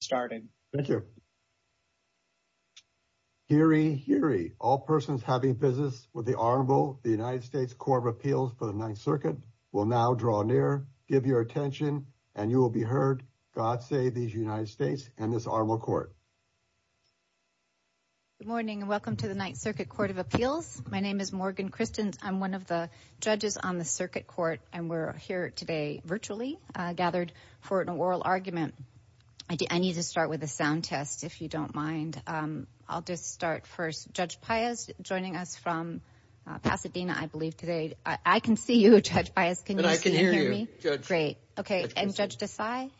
starting. Thank you. Hear ye, hear ye. All persons having business with the Honorable the United States Court of Appeals for the Ninth Circuit will now draw near. Give your attention and you will be heard. God save these United States and this Honorable Court. Good morning and welcome to the Ninth Circuit Court of Appeals. My name is Morgan Christens. I'm one of the judges on the Circuit Court and we're here today virtually gathered for an oral argument. I need to start with a sound test if you don't mind. I'll just start first. Judge Piaz joining us from Pasadena, I believe, today. I can see you, Judge Piaz. Can you see and hear me? Great. Okay. And Judge Desai?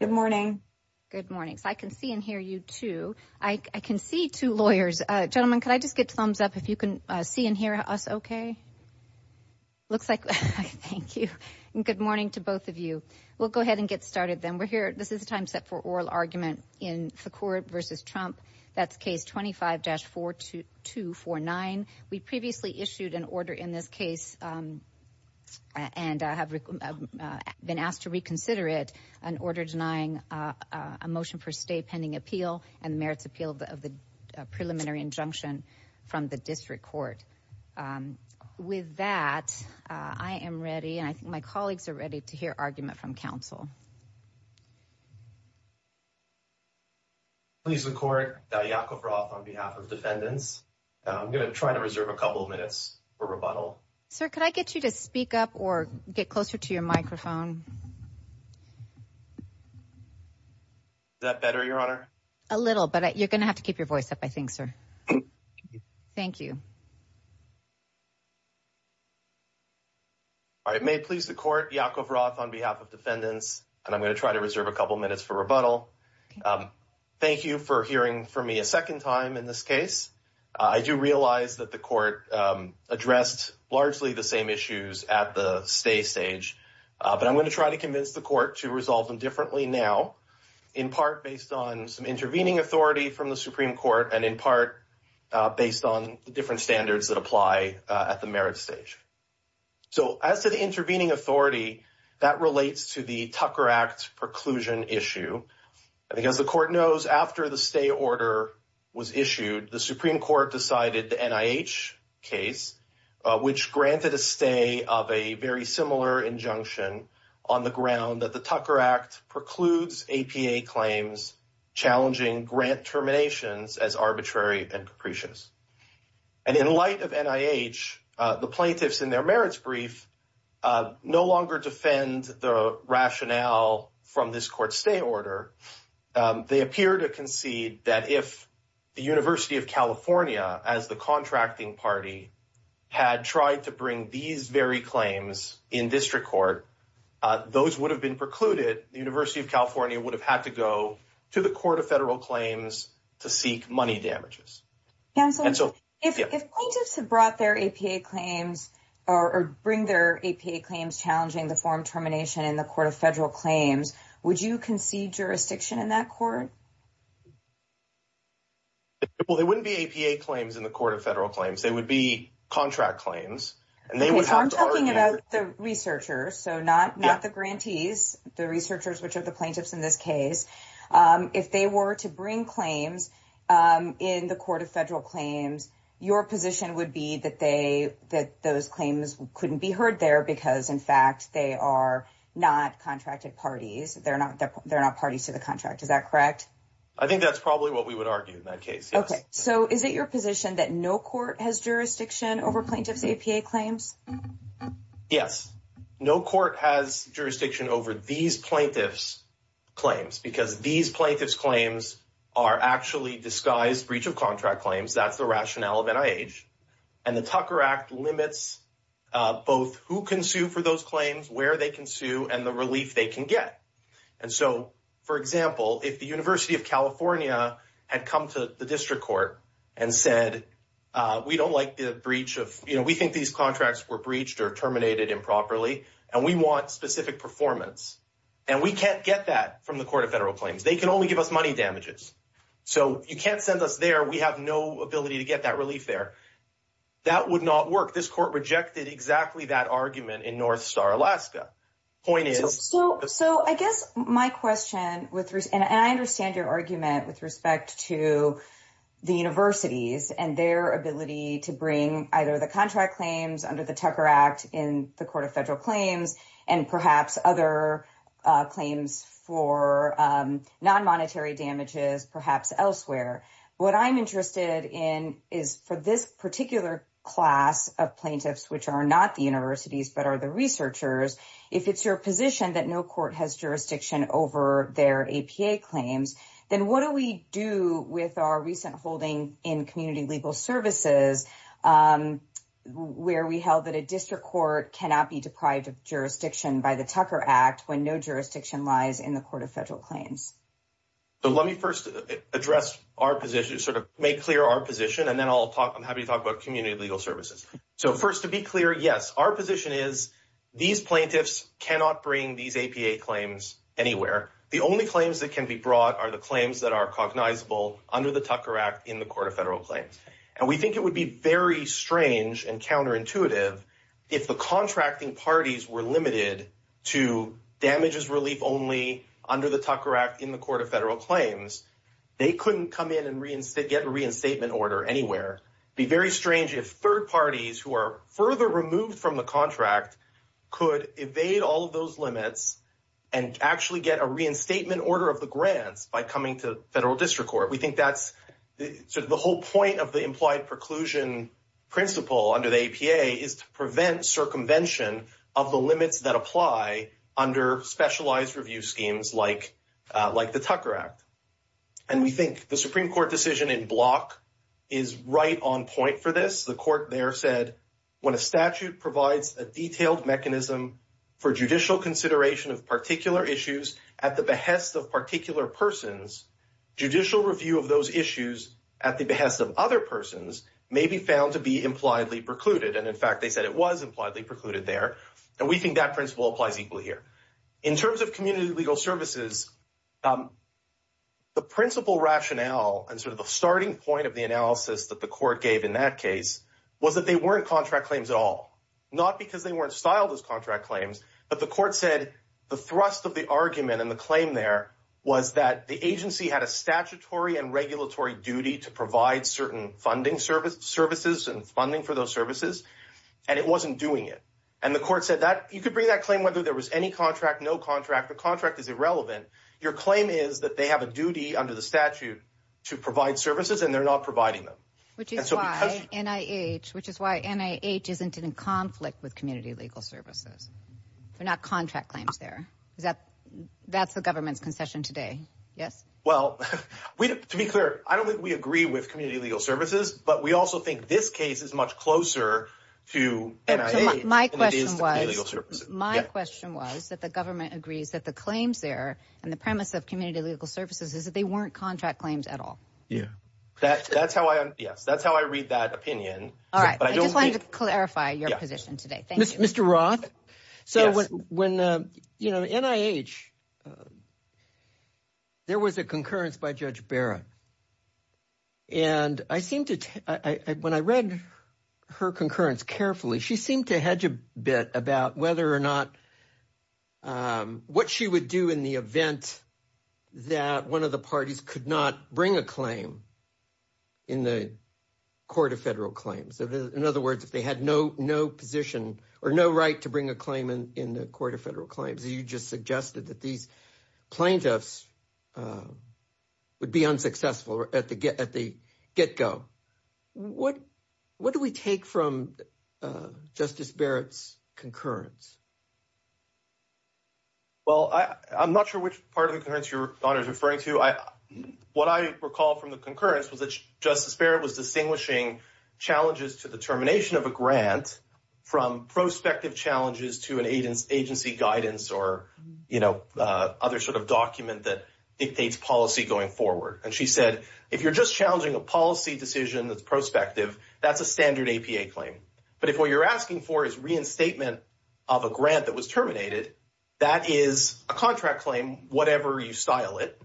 Good morning. Good morning. So I can see and hear you too. I can see two lawyers. Gentlemen, could I just get thumbs up if you can see and hear us okay? Looks like. Thank you. Good morning to both of you. We'll go this is a time set for oral argument in Foucault versus Trump. That's case 25-4249. We previously issued an order in this case and have been asked to reconsider it, an order denying a motion for stay pending appeal and merits appeal of the preliminary injunction from the district court. With that, I am ready and I think my colleagues are ready to hear argument from counsel. Please the court that Yakov Roth on behalf of defendants. I'm going to try to reserve a couple of minutes for rebuttal. Sir, could I get you to speak up or get closer to your microphone? Is that better, Your Honor? A little, but you're going to have to keep your voice up, I think, sir. Thank you. All right. May it please the court, Yakov Roth on behalf of defendants, and I'm going to try to reserve a couple of minutes for rebuttal. Thank you for hearing from me a second time in this case. I do realize that the court addressed largely the same issues at the stay stage, but I'm going to try to convince the court to resolve them differently now, in part based on some intervening authority from the Supreme Court and in part based on different standards that apply at the stay stage. So as to the intervening authority, that relates to the Tucker Act preclusion issue. Because the court knows after the stay order was issued, the Supreme Court decided the NIH case, which granted a stay of a very similar injunction on the ground that the Tucker Act precludes APA claims, challenging grant terminations as arbitrary and capricious. And in light of NIH, the plaintiffs in their merits brief, no longer defend the rationale from this court stay order. They appear to concede that if the University of California as the contracting party had tried to bring these very claims in district court, those would have been precluded, the University of California would have had to go to the federal claims to seek money damages. And so if plaintiffs have brought their APA claims, or bring their APA claims challenging the form termination in the Court of Federal Claims, would you concede jurisdiction in that court? Well, they wouldn't be APA claims in the Court of Federal Claims, they would be contract claims. And they were talking about the researchers, so not not the grantees, the researchers, which are the plaintiffs in this case. If they were to bring claims in the Court of Federal Claims, your position would be that they that those claims couldn't be heard there, because in fact, they are not contracted parties. They're not, they're not parties to the contract. Is that correct? I think that's probably what we would argue in that case. Okay, so is it your position that no court has jurisdiction over plaintiffs APA claims? Yes, no court has jurisdiction over these plaintiffs claims because these plaintiffs claims are actually disguised breach of contract claims. That's the rationale of NIH and the Tucker Act limits both who can sue for those claims, where they can sue and the relief they can get. And so, for example, if the University of California had come to the district court and said, we don't like the breach of, you know, we think these contracts were breached or terminated improperly, and we want specific performance and we can't get that from the Court of Federal Claims, they can only give us money damages. So you can't send us there. We have no ability to get that relief there. That would not work. This court rejected exactly that argument in North Star, Alaska. Point is, so I guess my question with and I understand your argument with respect to the universities and their ability to bring either the contract claims under the Tucker Act in the Court of Federal Claims and perhaps other claims for non-monetary damages, perhaps elsewhere. What I'm interested in is for this particular class of plaintiffs, which are not the universities, but are the researchers, if it's your position that no court has jurisdiction over their APA claims, then what do we do with our recent holding in community legal services where we held that a district court cannot be deprived of jurisdiction by the Tucker Act when no jurisdiction lies in the Court of Federal Claims? So let me first address our position, sort of make clear our position, and then I'm happy to talk about community legal services. So first, to be clear, yes, our position is these plaintiffs cannot bring these APA claims anywhere. The only claims that can be brought are the claims that are cognizable under the Tucker Act in the Court of Federal Claims. And we think it would be very strange and counterintuitive if the contracting parties were limited to damages relief only under the Tucker Act in the Court of Federal Claims, they couldn't come in and get a reinstatement order anywhere. Be very strange if third parties who are further removed from the contract could evade all of those limits and actually get a reinstatement order of the grants by coming to federal district court. We think that's sort of the whole point of the implied preclusion principle under the APA is to prevent circumvention of the limits that apply under specialized review schemes like the Tucker Act. And we think the Supreme Court decision in block is right on point for this. The court there said when a statute provides a detailed mechanism for judicial consideration of particular issues at the behest of particular persons, judicial review of those issues at the behest of other persons may be found to be impliedly precluded. And in fact, they said it was impliedly precluded there. And we think that principle applies equally here in terms of community legal services, the principle rationale and sort of the starting point of the analysis that the court gave in that case was that they weren't contract claims at all, not because they weren't styled as contract claims, but the court said the thrust of the argument and the claim there was that the agency had a statutory and regulatory duty to provide certain funding services and funding for those services. And it wasn't doing it. And the court said that you could bring that claim whether there was any contract, no contract, the contract is irrelevant. Your claim is that they have a duty under the statute to provide services and they're not providing them. Which is why NIH, which is why NIH isn't in conflict with community legal services. They're not contract claims there. Is that that's the government's concession today? Yes. Well, to be clear, I don't think we agree with community legal services, but we also think this case is much closer to NIH than it is to community legal services. My question was that the government agrees that the claims there and the premise of community legal services is that they weren't contract claims at all. Yeah, that's how I, yes, that's how I read that opinion. All right. I just wanted to clarify your position today. Thank you. Mr. Roth. So when, you know, NIH, there was a concurrence by Judge Barra. And I seem to, when I read her concurrence carefully, she seemed to hedge a bit about whether or not what she would do in the event that one of the parties could not bring a claim in the court of federal claims. So in other words, if they had no, no position or no right to bring a claim in the court of federal claims, you just suggested that these plaintiffs would be unsuccessful at the get go. What do we take from Justice Barrett's concurrence? Well, I'm not sure which part of the concurrence your daughter is referring to. What I recall from the concurrence was that Justice Barrett was distinguishing challenges to the termination of a grant from prospective challenges to an agency guidance or, you know, other sort of document that dictates policy going forward. And she said, if you're just challenging a policy decision that's prospective, that's a standard APA claim. But if what you're asking for is reinstatement of a grant that was terminated, that is a contract claim, whatever you style it.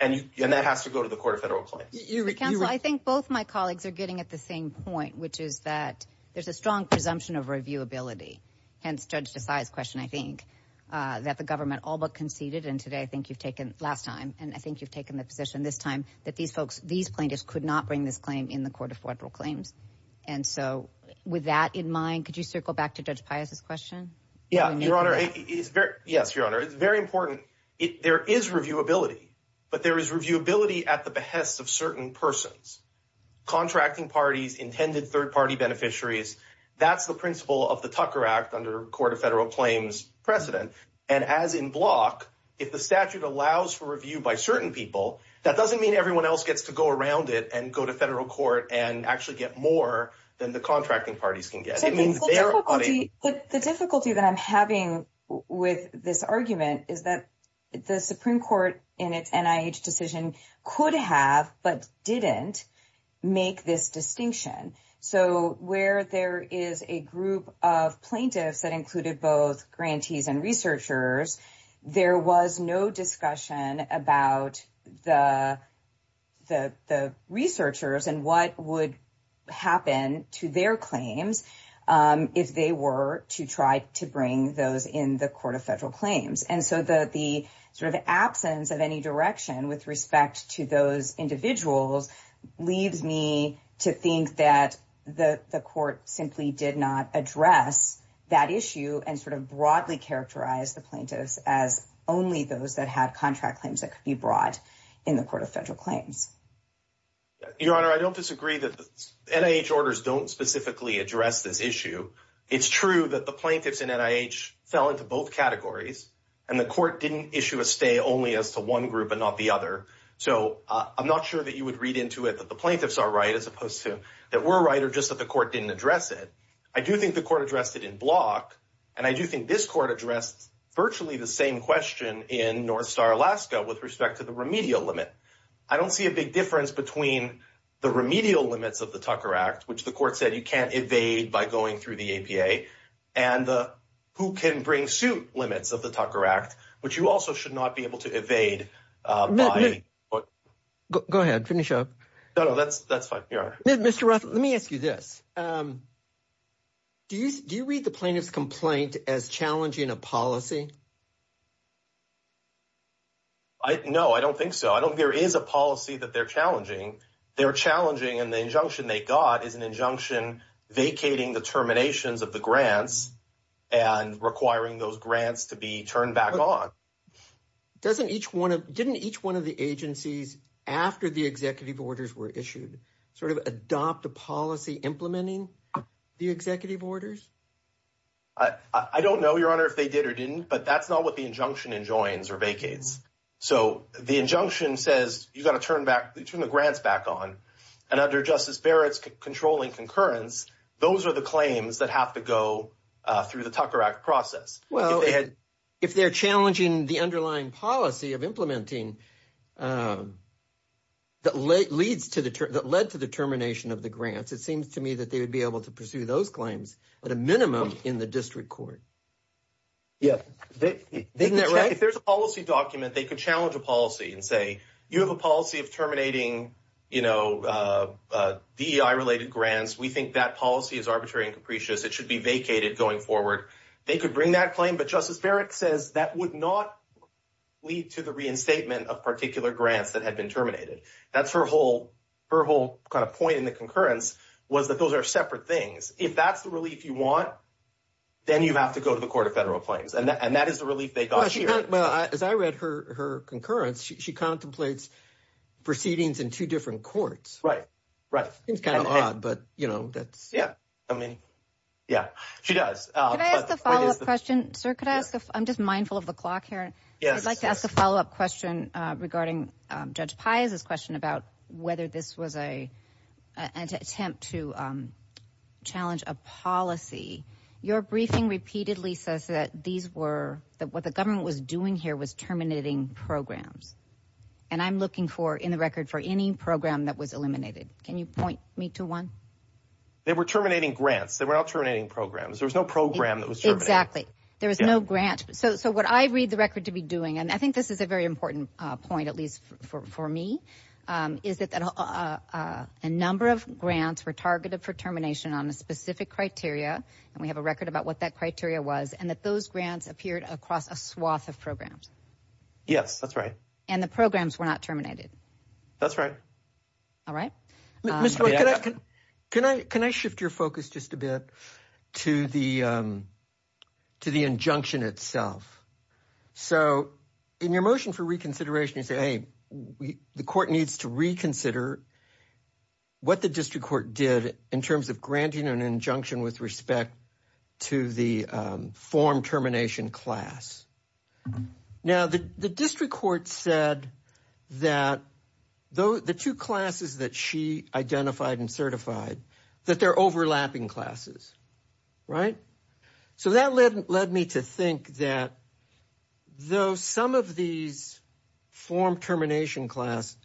And that has to go to the court of federal claims. I think both my colleagues are getting at the same point, which is that there's a strong presumption of reviewability and judge decides question. I think that the government all but conceded. And today I think you've taken last time and I think you've taken the position this time that these folks, these plaintiffs could not bring this claim in the court of federal claims. And so with that in mind, could you circle back to Judge Pius's question? Yeah, Your Honor. Yes, Your Honor. It's very important. There is reviewability, but there is reviewability at the behest of certain persons, contracting parties, intended third party beneficiaries. That's the principle of the Tucker Act under court of federal claims precedent. And as in block, if the statute allows for review by certain people, that doesn't mean everyone else gets to go around it and go to federal court and actually get more than the contracting parties can get. I mean, the difficulty that I'm having with this argument is that the Supreme Court in its NIH decision could have but didn't make this distinction. So where there is a group of plaintiffs that included both grantees and researchers, there was no discussion about the. The researchers and what would happen to their claims if they were to try to bring those in the court of federal claims. And so the sort of absence of any direction with respect to those individuals leaves me to think that the court simply did not address that issue and sort of broadly characterize the plaintiffs as only those that had contract claims that could be brought in the court of federal claims. Your Honor, I don't disagree that the NIH orders don't specifically address this issue. It's true that the plaintiffs in NIH fell into both categories, and the court didn't issue a stay only as to one group and not the other. So I'm not sure that you would read into it that the plaintiffs are right as opposed to that we're right or just that the court didn't address it. I do think the court addressed it in block, and I do think this court addressed virtually the same question in North Star Alaska with respect to the remedial limit. I don't see a big difference between the remedial limits of the Tucker Act, which the court said you can't evade by going through the APA and who can bring suit limits of the Tucker Act, but you also should not be able to evade. Go ahead. Finish up. No, that's fine. Mr. Roth, let me ask you this. Do you read the plaintiff's complaint as challenging a policy? No, I don't think so. I don't. There is a policy that they're challenging. They're challenging. And the injunction they got is an injunction vacating the terminations of the grants and requiring those grants to be turned back on. Doesn't each one of each one of the agencies after the executive orders were issued sort of adopt a policy implementing the executive orders? I don't know, Your Honor, if they did or didn't, but that's not what the injunction enjoins or vacates. So the injunction says you got to turn the grants back on. And under Justice Barrett's controlling concurrence, those are the claims that have to go through the Tucker Act process. Well, if they're challenging the underlying policy of implementing that led to the termination of the grants, it seems to me that they would be able to pursue those claims at a minimum in the district court. Yeah. Isn't that right? If there's a policy document, they could challenge a policy and say you have a policy of terminating DEI related grants. We think that policy is arbitrary and capricious. It should be vacated going forward. They could bring that claim. But Justice Barrett says that would not lead to the reinstatement of particular grants that had been terminated. That's her whole kind of point in the concurrence was that those are separate things. If that's the relief you want, then you have to go to the Court of Federal Claims. And that is the relief they got here. Well, as I read her concurrence, she contemplates proceedings in two different courts. Right. Right. It's kind of odd, but that's. Yeah. I mean, yeah, she does. The follow up question. Sir, could I ask if I'm just mindful of the clock here? Yes. I'd like to ask a follow up question regarding Judge Piazza's question about whether this was an attempt to challenge a policy. Your briefing repeatedly says that what the government was doing here was terminating programs. And I'm looking for in the record for any program that was eliminated. Can you point me to one? They were terminating grants. They were all terminating programs. There was no program that was exactly. There was no grant. So what I read the record to be doing, and I think this is a very important point, at least for me, is that a number of grants were targeted for termination on a specific criteria. And we have a record about what that criteria was and that those grants appeared across a swath of programs. Yes, that's right. And the programs were not terminated. That's right. All right. Can I shift your focus just a bit to the injunction itself? So in your motion for reconsideration, you say the court needs to reconsider what the district court did in terms of granting an injunction with respect to the form termination class. Now, the district court said that the two classes that she identified and certified, that they're overlapping classes. Right. So that led me to think that though some of these form termination class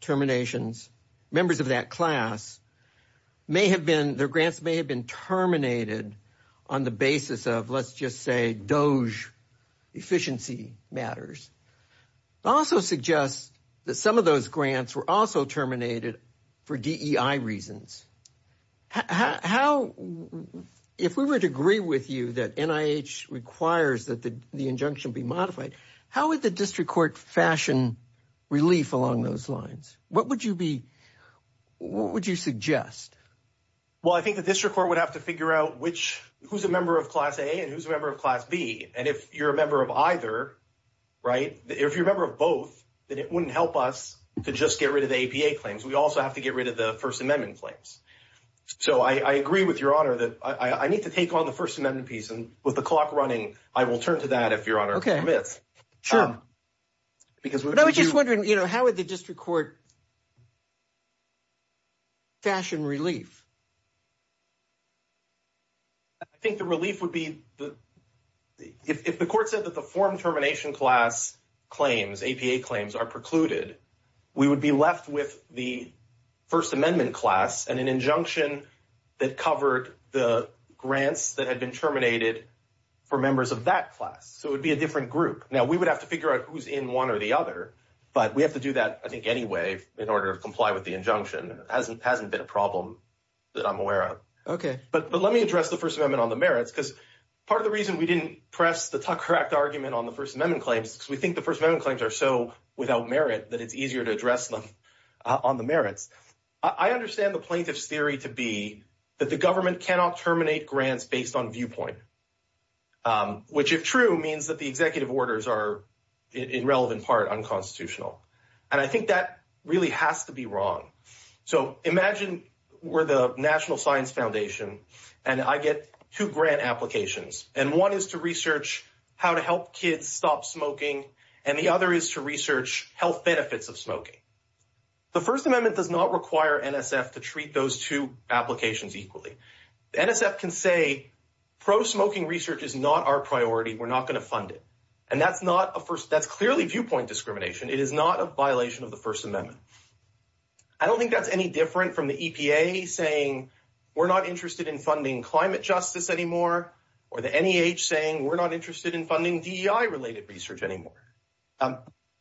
terminations, members of that class may have been, their grants may have been terminated on the basis of, let's just say, DOJ efficiency matters. It also suggests that some of those grants were also terminated for DEI reasons. If we would agree with you that NIH requires that the injunction be modified, how would the district court fashion relief along those lines? What would you suggest? Well, I think the district court would have to figure out who's a member of class A and who's a member of class B. And if you're a member of either, right, if you're a member of both, then it wouldn't help us to just get rid of the APA claims. We also have to get rid of the First Amendment claims. So I agree with your honor that I need to take on the First Amendment piece and with the clock running, I will turn to that if your honor permits. Sure. Because I was just wondering, you know, how would the district court fashion relief? I think the relief would be if the court said that the form termination class claims, APA claims are precluded, we would be left with the First Amendment class and an injunction that covered the grants that had been terminated for members of that class. So it would be a different group. Now we would have to figure out who's in one or the other, but we have to do that, I think, anyway, in order to comply with the injunction hasn't hasn't been a problem. That I'm aware of. Okay, but let me address the First Amendment on the merits because part of the reason we didn't press the Tucker Act argument on the First Amendment claims because we think the First Amendment claims are so without merit that it's easier to address them on the merits. I understand the plaintiff's theory to be that the government cannot terminate grants based on viewpoint, which if true means that the executive orders are in relevant part unconstitutional. And I think that really has to be wrong. So imagine we're the National Science Foundation, and I get two grant applications, and one is to research how to help kids stop smoking, and the other is to research health benefits of The First Amendment does not require NSF to treat those two applications equally. NSF can say pro smoking research is not our priority. We're not going to fund it. And that's not a first. That's clearly viewpoint discrimination. It is not a violation of the First Amendment. I don't think that's any different from the EPA saying we're not interested in funding climate justice anymore, or the NEH saying we're not interested in funding DEI related research anymore.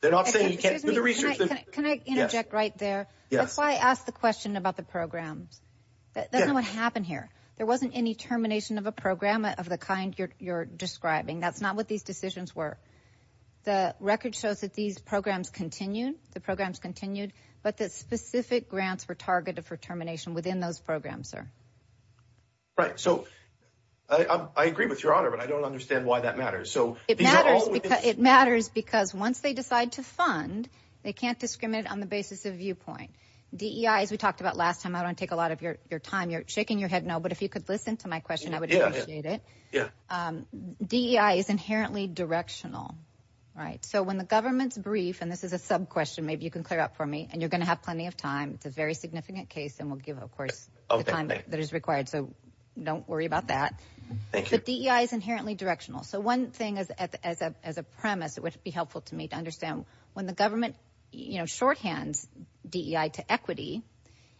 They're not saying you can't do the research. Can I interject right there? That's why I asked the question about the programs. That's not what happened here. There wasn't any termination of a program of the kind you're describing. That's not what these decisions were. The record shows that these programs continued. The programs continued, but the specific grants were targeted for termination within those programs are right. So I agree with your honor, but I don't understand why that matters. So it matters because once they decide to fund, they can't discriminate on the basis of viewpoint. DEI, as we talked about last time, I don't take a lot of your time. You're shaking your head. No, but if you could listen to my question, I would appreciate it. DEI is inherently directional, right? When the government's brief, and this is a sub question, maybe you can clear up for me and you're going to have plenty of time. It's a very significant case, and we'll give, of course, the time that is required. So don't worry about that. Thank you. But DEI is inherently directional. So one thing as a premise, it would be helpful to me to understand when the government, you know, shorthands DEI to equity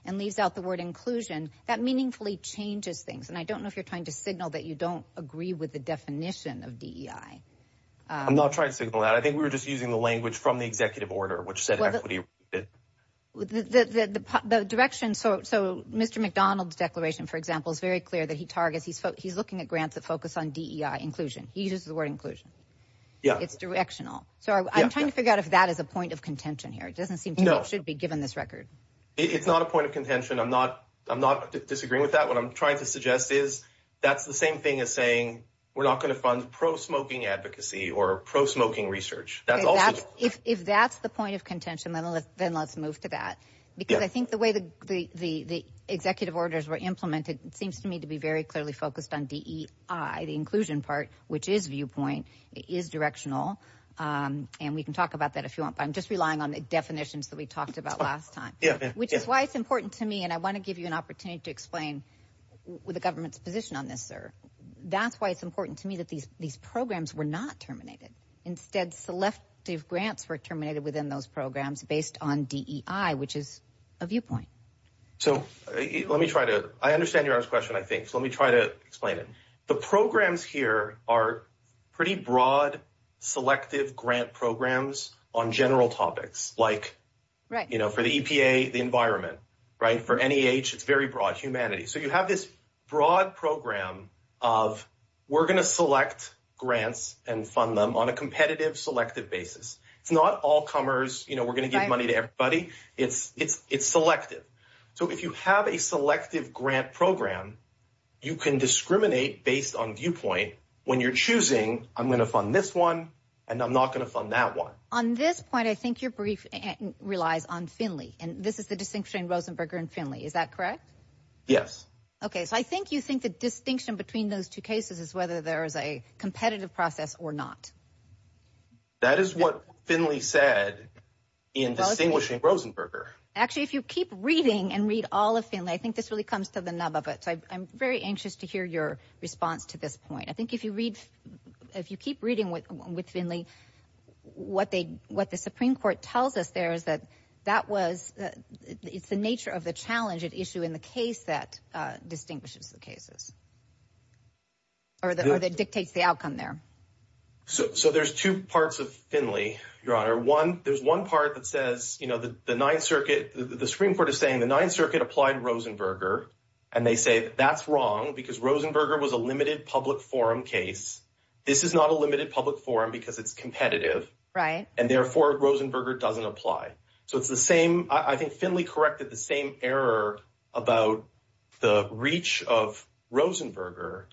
and leaves out the word inclusion, that meaningfully changes things. And I don't know if you're trying to signal that you don't agree with the definition of DEI. I'm not trying to signal that. I think we were just using the language from the executive order, which said equity. The direction. So Mr. McDonald's declaration, for example, is very clear that he targets he's looking at grants that focus on DEI inclusion. He uses the word inclusion. Yeah, it's directional. So I'm trying to figure out if that is a point of contention here. It doesn't seem to be given this record. It's not a point of contention. I'm not disagreeing with that. What I'm trying to suggest is that's the same thing as saying we're not going to fund pro smoking advocacy or pro smoking research. If that's the point of contention, then let's move to that. Because I think the way the executive orders were implemented, it seems to me to be very clearly focused on DEI, the inclusion part, which is viewpoint is directional. And we can talk about that if you want. But I'm just relying on the definitions that we talked about last time, which is why it's important to me. And I want to give you an opportunity to explain the government's position on this, sir. That's why it's important to me that these programs were not terminated. Instead, selective grants were terminated within those programs based on DEI, which is a viewpoint. So let me try to I understand your question. I think let me try to explain it. The programs here are pretty broad, selective grant programs on general topics like for the EPA, the environment, right? For any age, it's very broad humanity. So you have this broad program of we're going to select grants and fund them on a competitive, selective basis. It's not all comers. We're going to give money to everybody. It's selective. So if you have a selective grant program, you can discriminate based on viewpoint. When you're choosing, I'm going to fund this one and I'm not going to fund that one. On this point, I think your brief relies on Finley. And this is the distinction between Rosenberger and Finley. Is that correct? Yes. OK, so I think you think the distinction between those two is whether there is a competitive process or not. That is what Finley said in distinguishing Rosenberger. Actually, if you keep reading and read all of Finley, I think this really comes to the nub of it. So I'm very anxious to hear your response to this point. I think if you read if you keep reading with Finley, what they what the Supreme Court tells us there is that that was it's the nature of the challenge at issue in the case that distinguishes the cases. Or that dictates the outcome there. So there's two parts of Finley, Your Honor. One, there's one part that says, you know, the Ninth Circuit, the Supreme Court is saying the Ninth Circuit applied Rosenberger and they say that's wrong because Rosenberger was a limited public forum case. This is not a limited public forum because it's competitive. Right. And therefore, Rosenberger doesn't apply. So it's the same. I think Finley corrected the same error about the reach of Rosenberger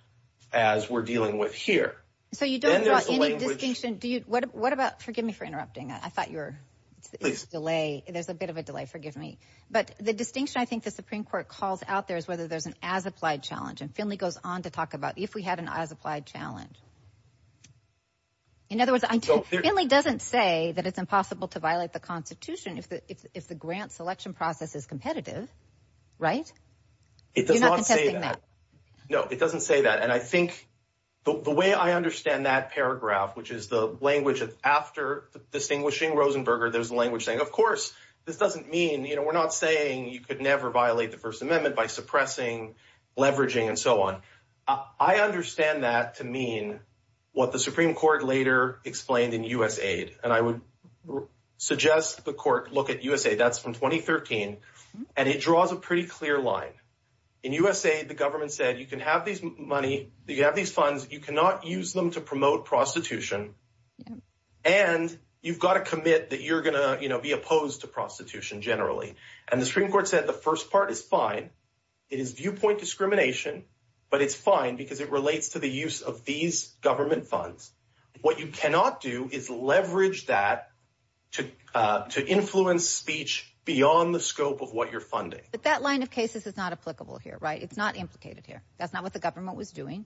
as we're dealing with here. So you don't draw any distinction. What about forgive me for interrupting? I thought you were delay. There's a bit of a delay. Forgive me. But the distinction I think the Supreme Court calls out there is whether there's an as applied challenge. And Finley goes on to talk about if we had an as applied challenge. In other words, Finley doesn't say that it's impossible to violate the Constitution if the grant selection process is competitive, right? It does not say that. No, it doesn't say that. And I think the way I understand that paragraph, which is the language of after distinguishing Rosenberger, there's language saying, of course, this doesn't mean we're not saying you could never violate the First Amendment by suppressing, leveraging and so on. I understand that to mean what the Supreme Court later explained in USAID. And I would suggest the court look at USAID. That's from 2013, and it draws a pretty clear line in USAID. The government said you can have these money. You have these funds. You cannot use them to promote prostitution. And you've got to commit that you're going to be opposed to prostitution generally. And the Supreme Court said the first part is fine. It is viewpoint discrimination, but it's fine because it relates to the use of these government funds. What you cannot do is leverage that to influence speech beyond the scope of what you're funding. But that line of cases is not applicable here, right? It's not implicated here. That's not what the government was doing.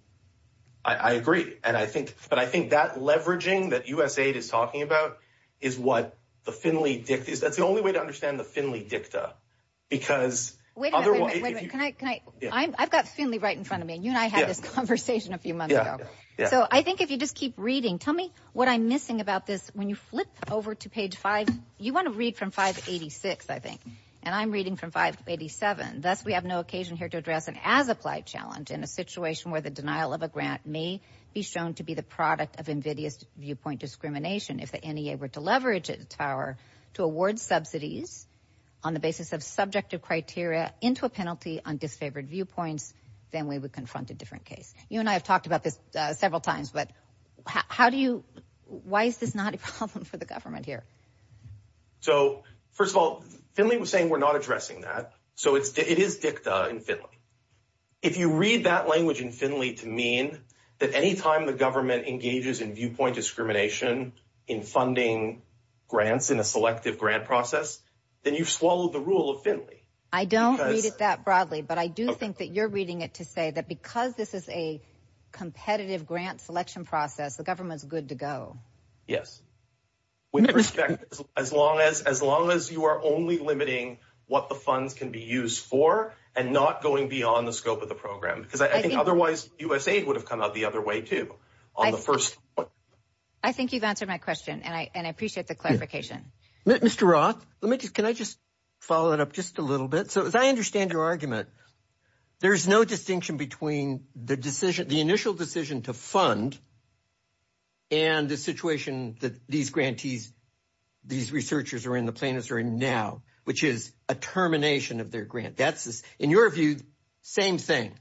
I agree. And I think that leveraging that USAID is talking about is what the Finley dicta is. That's the only way to understand the Finley dicta, because I've got Finley right in front of me, and you and I had this conversation a few months ago. So I think if you just keep reading, tell me what I'm missing about this. When you flip over to page five, you want to read from 586, I think, and I'm reading from 587. Thus, we have no occasion here to address an as-applied challenge in a situation where the denial of a grant may be shown to be the product of invidious viewpoint discrimination. If the NEA were to leverage its power to award subsidies on the basis of subjective criteria into a penalty on disfavored viewpoints, then we would confront a different case. You and I have talked about this several times, but why is this not a problem for the government here? So first of all, Finley was saying we're not addressing that. So it is dicta in Finley. If you read that language in Finley to mean that any time the government engages in viewpoint discrimination in funding grants in a selective grant process, then you've swallowed the rule of Finley. I don't read it that broadly, but I do think that you're to say that because this is a competitive grant selection process, the government is good to go. Yes, with respect, as long as you are only limiting what the funds can be used for and not going beyond the scope of the program, because I think otherwise USAID would have come out the other way, too. I think you've answered my question, and I appreciate the clarification. Mr. Roth, can I just follow it up just a little bit? As I understand your argument, there's no distinction between the initial decision to fund and the situation that these grantees, these researchers are in, the plaintiffs are in now, which is a termination of their grant. In your view, same thing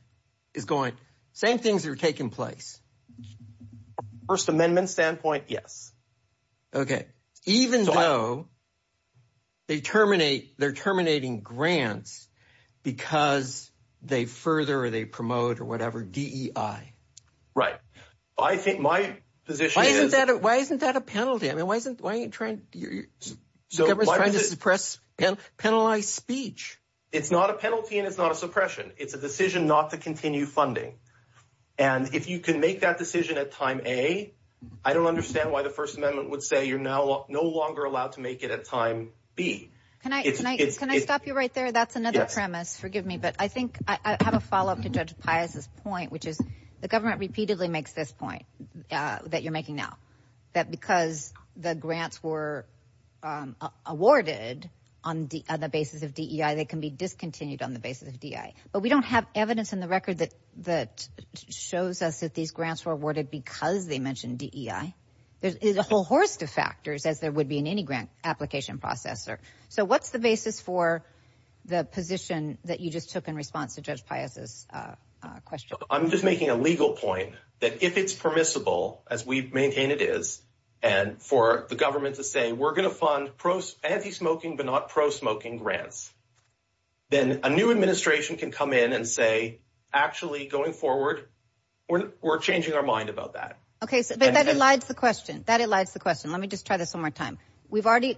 is going. Same things are taking place. First Amendment standpoint, yes. Okay. Even though they terminate, they're terminating grants because they further or they promote or whatever DEI. Right. I think my position is. Why isn't that a penalty? I mean, why aren't you trying to suppress and penalize speech? It's not a penalty, and it's not a suppression. It's a decision not to continue funding. And if you can make that decision at time A, I don't understand why the First Amendment would say you're no longer allowed to make it at time B. Can I stop you right there? That's another premise. Forgive me. But I think I have a follow up to Judge Pius's point, which is the government repeatedly makes this point that you're making now, that because the grants were awarded on the basis of DEI, they can be discontinued on the basis of DEI. But we don't have evidence in the record that shows us that these grants were awarded because they mentioned DEI. There's a whole host of factors, as there would be in any grant application processor. So what's the basis for the position that you just took in response to Judge Pius's question? I'm just making a legal point that if it's permissible, as we maintain it is, and for the government to say we're going to fund anti-smoking but not pro-smoking grants, then a new administration can come in and say, actually, going forward, we're changing our mind about that. OK, so that elides the question. That elides the question. Let me just try this one more time. We've already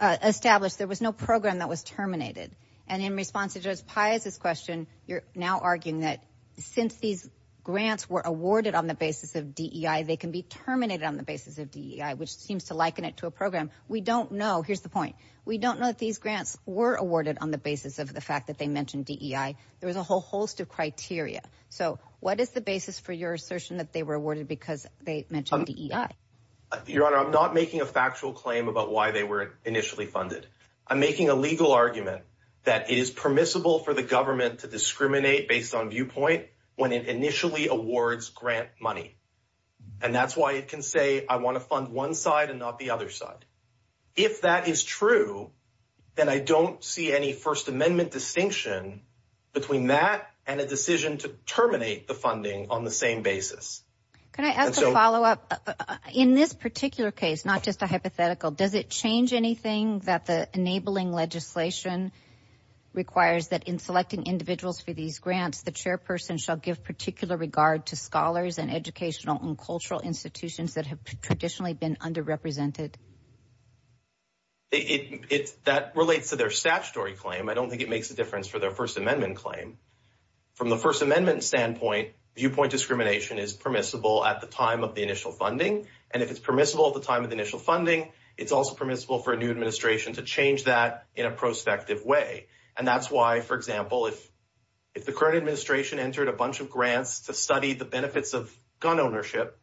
established there was no program that was terminated. And in response to Judge Pius's question, you're now arguing that since these grants were awarded on the basis of DEI, they can be terminated on the basis of DEI, which seems to liken it to a program. We don't know. Here's the point. We don't know that these grants were awarded on the basis of the fact that they mentioned DEI. There was a whole host of criteria. So what is the basis for your assertion that they were awarded because they mentioned DEI? Your Honor, I'm not making a factual claim about why they were initially funded. I'm making a legal argument that it is permissible for the government to discriminate based on viewpoint when it initially awards grant money. And that's why it can say I want to fund one side and not the other side. If that is true, then I don't see any First Amendment distinction between that and a decision to terminate the funding on the same basis. Can I ask a follow up in this particular case? Not just a hypothetical. Does it change anything that the enabling legislation requires that in selecting individuals for these grants, the chairperson shall give particular regard to scholars and educational and cultural institutions that have traditionally been underrepresented? That relates to their statutory claim. I don't think it makes a difference for their First Amendment claim from the First Amendment standpoint. Viewpoint discrimination is permissible at the time of the initial funding. And if it's permissible at the time of the initial funding, it's also permissible for a new administration to change that in a prospective way. And that's why, for example, if the current administration entered a bunch of grants to study the benefits of gun ownership,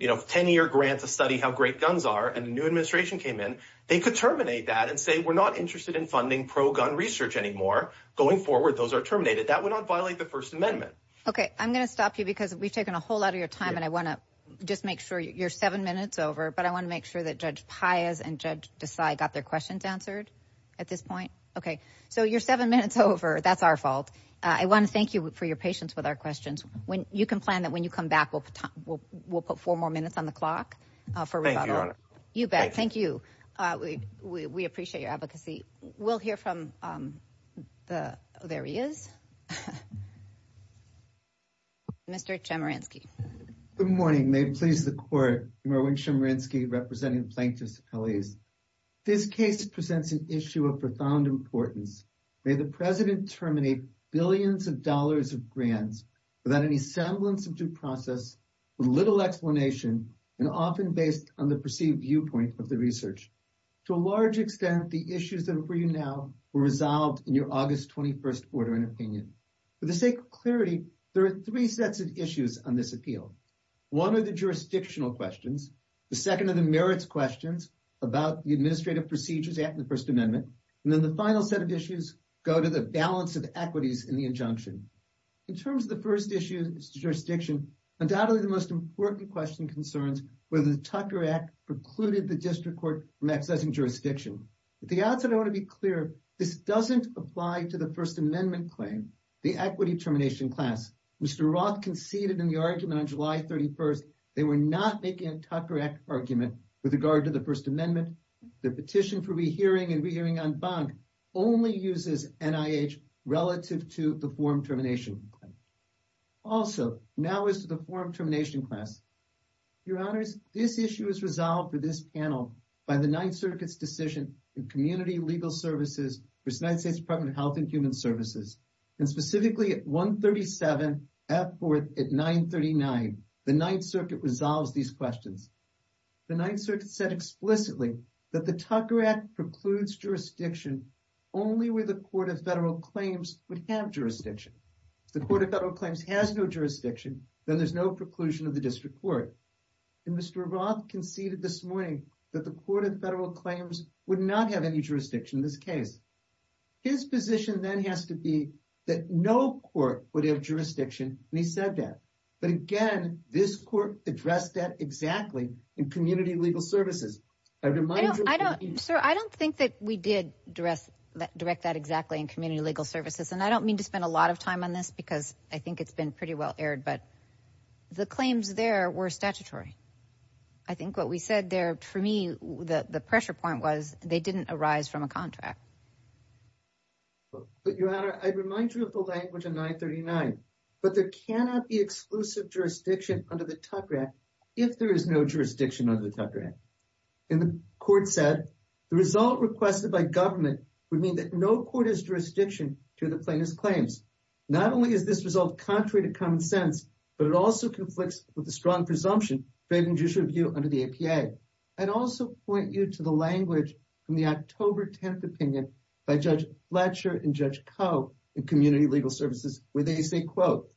10 year grant to study how great guns are and the new administration came in, they could terminate that and say, we're not interested in funding pro-gun research anymore. Going forward, those are terminated. That would not violate the First Amendment. OK, I'm going to stop you because we've taken a whole lot of your time, and I want to just make sure you're seven minutes over. But I want to make sure that Judge Pius and Judge Desai got their questions answered at this point. OK, so you're seven minutes over. That's our fault. I want to thank you for your patience with our questions. When you can plan that when you come back, we'll put four more minutes on the clock for rebuttal. You bet. Thank you. We appreciate your advocacy. We'll hear from the, there he is. Mr. Chemerinsky. Good morning. May it please the court. Merwin Chemerinsky, representing plaintiffs. This case presents an issue of profound importance. May the president terminate billions of dollars of grants without any semblance of due process, with little explanation, and often based on the perceived viewpoint of the research. To a large extent, the issues that are before you now were resolved in your August 21st order and opinion. For the sake of clarity, there are three sets of issues on this appeal. One are the jurisdictional questions. The second are the merits questions about the Administrative Procedures Act and the First Amendment. And then the final set of issues go to the balance of equities in the injunction. In terms of the first issue, jurisdiction, undoubtedly the most important question concerns whether the Tucker precluded the district court from accessing jurisdiction. At the outset, I want to be clear, this doesn't apply to the First Amendment claim, the equity termination class. Mr. Roth conceded in the argument on July 31st, they were not making a Tucker Act argument with regard to the First Amendment. The petition for rehearing and rehearing on bond only uses NIH relative to the form termination. Also, now as to the form termination class. Your honors, this issue is resolved for this panel by the Ninth Circuit's decision in Community Legal Services for the United States Department of Health and Human Services, and specifically at 137 at 939, the Ninth Circuit resolves these questions. The Ninth Circuit said explicitly that the Tucker Act precludes jurisdiction only where the Court of Federal Claims would have jurisdiction. If the Court of Federal Claims has no jurisdiction, then there's no preclusion of the district court. And Mr. Roth conceded this morning that the Court of Federal Claims would not have any jurisdiction in this case. His position then has to be that no court would have jurisdiction, and he said that. But again, this court addressed that exactly in Community Legal Services. Sir, I don't think that we did direct that exactly in Community Legal Services, and I don't mean to spend a lot of time on this because I think it's been pretty well aired, but the claims there were statutory. I think what we said there, for me, the pressure point was they didn't arise from a contract. But Your Honor, I remind you of the language of 939, but there cannot be exclusive jurisdiction under the Tucker Act if there is no jurisdiction under the Tucker Act. And the court said the result requested by government would mean that no court has jurisdiction to the plaintiff's claims. Not only is this result contrary to common sense, but it also conflicts with the strong presumption draping judicial review under the APA. I'd also point you to the language from the October 10th opinion by Judge Fletcher and Judge Coe in Community Legal Services, where they say, quote,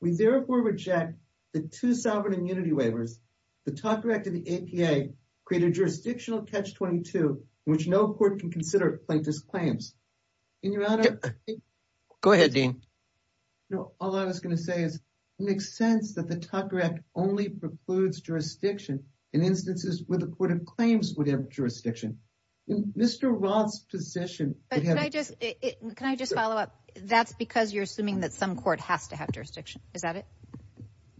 we therefore reject the two sovereign immunity waivers. The Tucker Act of the APA created jurisdictional catch 22, which no court can consider plaintiff's claims. And Your Honor. Go ahead, Dean. All I was going to say is it makes sense that the Tucker Act only precludes jurisdiction in instances where the court of claims would have jurisdiction. Mr. Roth's position. Can I just follow up? That's because you're assuming that some court has to have jurisdiction, is that it?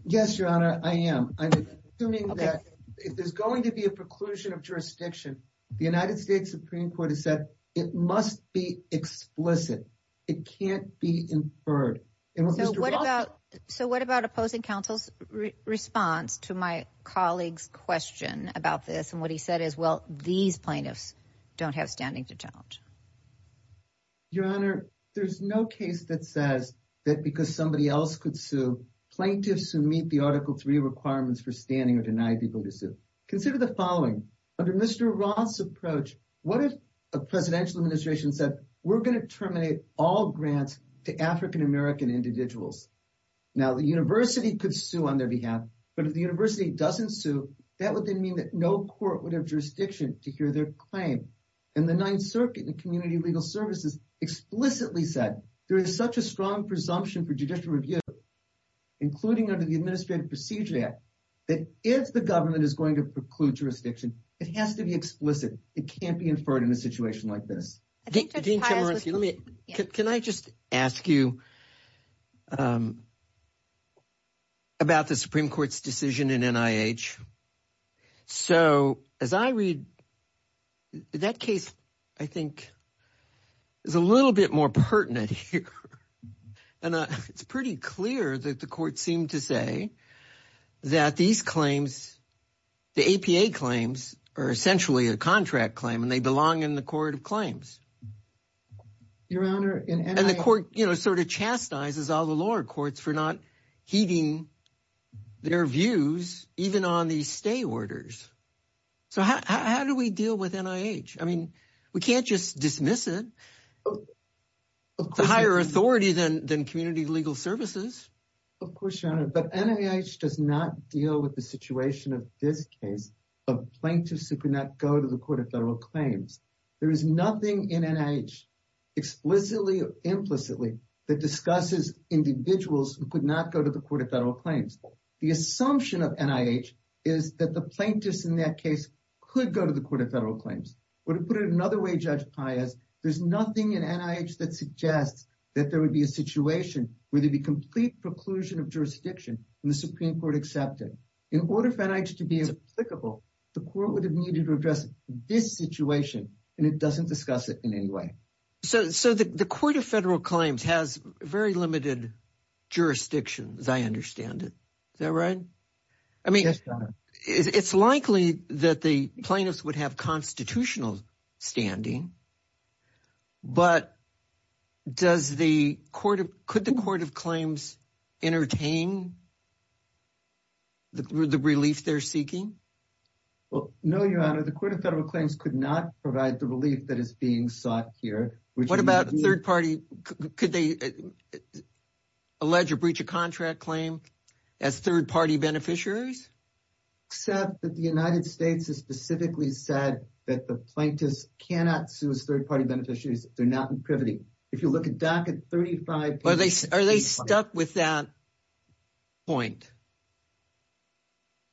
Yes, Your Honor, I am. I'm assuming that if there's going to be a preclusion of jurisdiction, the United States Supreme Court has said it must be explicit. It can't be inferred. So what about opposing counsel's response to my colleague's question about this? And what he said is, well, these plaintiffs don't have standing to challenge. Your Honor, there's no case that says that because somebody else could sue plaintiffs who meet the Article 3 requirements for standing or denied people to sue. Consider the following. Under Mr. Roth's approach, what if a presidential administration said we're going to terminate all grants to African-American individuals? Now, the university could sue on their behalf, but if the university doesn't sue, that would then mean that no court would have jurisdiction to hear their claim. And the Ninth Circuit and Community Legal Services explicitly said there is such a strong presumption for judicial review, including under the Administrative Procedure Act, that if the government is going to preclude jurisdiction, it has to be It can't be inferred in a situation like this. Can I just ask you about the Supreme Court's decision in NIH? So as I read that case, I think it's a little bit more pertinent here. And it's pretty clear that the court seemed to say that these claims, the APA claims, are essentially a contract claim and they belong in the court of Your Honor, and the court sort of chastises all the lower courts for not heeding their views, even on these stay orders. So how do we deal with NIH? I mean, we can't just dismiss it. It's a higher authority than Community Legal Services. Of course, Your Honor, but NIH does not deal with the situation of this case of plaintiffs who could not go to the Court of Federal Claims. There is nothing in NIH explicitly or implicitly that discusses individuals who could not go to the Court of Federal Claims. The assumption of NIH is that the plaintiffs in that case could go to the Court of Federal Claims. Or to put it another way, Judge Pius, there's nothing in NIH that suggests that there would be a situation where there'd be complete preclusion of jurisdiction and the Supreme Court accepted. In order for NIH to be applicable, the court would have needed to address this situation, and it doesn't discuss it in any way. So the Court of Federal Claims has very limited jurisdiction, as I understand it. Is that right? I mean, it's likely that the plaintiffs would have constitutional standing. But could the Court of Claims entertain the relief they're seeking? Well, no, Your Honor. The Court of Federal Claims could not provide the relief that is being sought here. What about third party? Could they allege a breach of contract claim as third party beneficiaries? Except that the United States has specifically said that the plaintiffs cannot sue as third party beneficiaries if they're not in privity. If you look at Docket 35- Are they stuck with that point?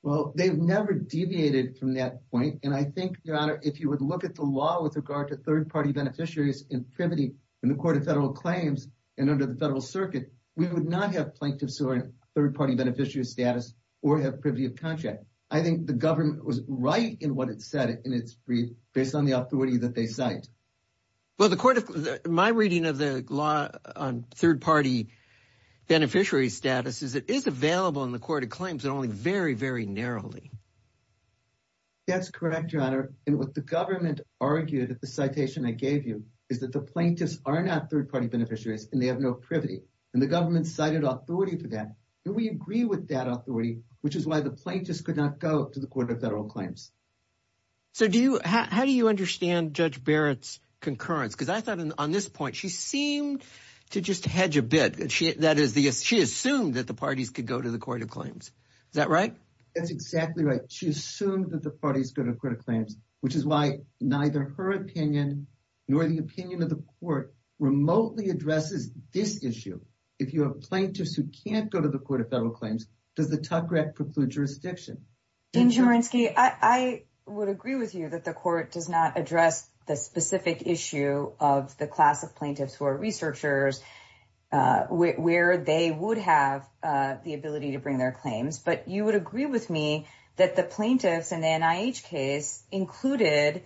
Well, they've never deviated from that point. And I think, Your Honor, if you would look at the law with regard to third party beneficiaries in privity in the Court of Federal Claims and under the Federal Circuit, we would not have plaintiffs who are in third party beneficiary status or have privity of contract. I think the government was right in what it said. And it's based on the authority that they cite. Well, the Court of- My reading of the law on third party beneficiary status is it is available in the Court of Claims and only very, very narrowly. That's correct, Your Honor. And what the government argued at the citation I gave you is that the plaintiffs are not third party beneficiaries and they have no privity. And the government cited authority for that. And we agree with that authority, which is why the plaintiffs could not go to the Court of Federal Claims. How do you understand Judge Barrett's concurrence? Because I thought on this point, she seemed to just hedge a bit. She assumed that the parties could go to the Court of Claims. Is that right? That's exactly right. She assumed that the parties go to the Court of Claims, which is why neither her opinion nor the opinion of the court remotely addresses this issue. If you have plaintiffs who can't go to the Court of Federal Claims, does the Tucker Act preclude jurisdiction? Dean Chemerinsky, I would agree with you that the court does not address the specific issue of the class of plaintiffs who are researchers where they would have the ability to bring their claims. But you would agree with me that the plaintiffs in the NIH case included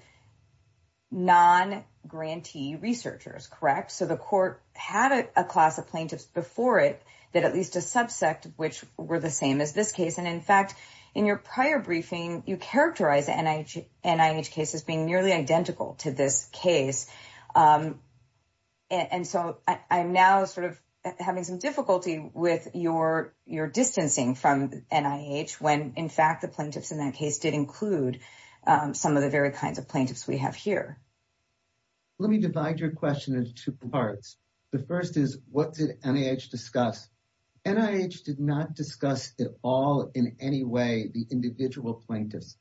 non-grantee researchers, correct? So the court had a class of plaintiffs before it that at least a subsect, which were the same as this case. And in fact, in your prior briefing, you characterized the NIH case as being nearly identical to this case. And so I'm now sort of having some difficulty with your distancing from NIH when, in fact, the plaintiffs in that case did include some of the very kinds of plaintiffs we have here. Let me divide your question into two parts. The first is, what did NIH discuss? NIH did not discuss at all in any way the individual plaintiffs.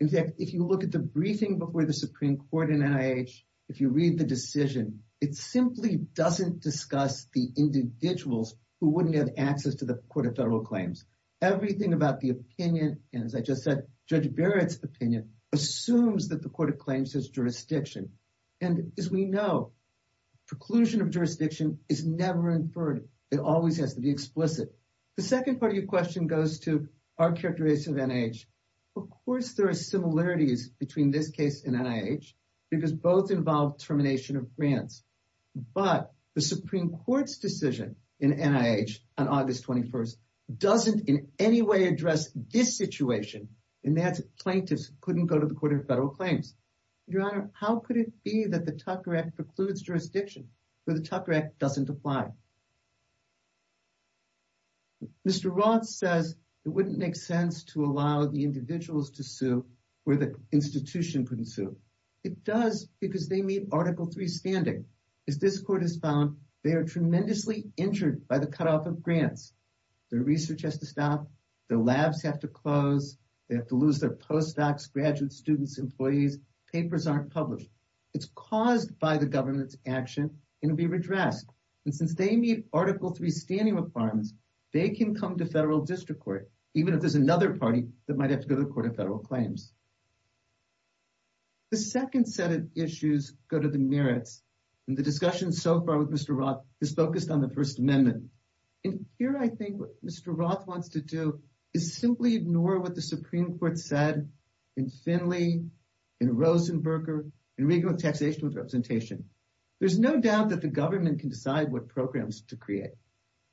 In fact, if you look at the briefing before the Supreme Court in NIH, if you read the decision, it simply doesn't discuss the individuals who wouldn't have access to the Court of Federal Claims. Everything about the opinion, and as I just said, Judge Barrett's opinion assumes that the Court of Claims has jurisdiction. And as we know, preclusion of jurisdiction is never inferred. It always has to be explicit. The second part of your question goes to our characterization of NIH. Of course, there are similarities between this case and NIH because both involve termination of grants. But the Supreme Court's decision in NIH on August 21st doesn't in any way address this situation, and that's plaintiffs couldn't go to the Court of Federal Claims. Your Honor, how could it be that the Tucker Act precludes jurisdiction where the Tucker Act doesn't apply? Mr. Roth says it wouldn't make sense to allow the individuals to sue where the institution couldn't sue. It does because they meet Article III standing. As this Court has found, they are tremendously injured by the cutoff of grants. Their research has to stop. Their labs have to close. They have to lose their postdocs, graduates, students, employees. Papers aren't published. It's caused by the government's action, and it'll be redressed. And since they meet Article III standing requirements, they can come to federal district court, even if there's another party that might have to go to the Court of Federal Claims. The second set of issues go to the merits, and the discussion so far with Mr. Roth is focused on the First Amendment. And here I think what Mr. Roth wants to do is simply ignore what the Supreme Court said in Finley, in Rosenberger, in Regan with taxation with representation. There's no doubt that the government can decide what programs to create.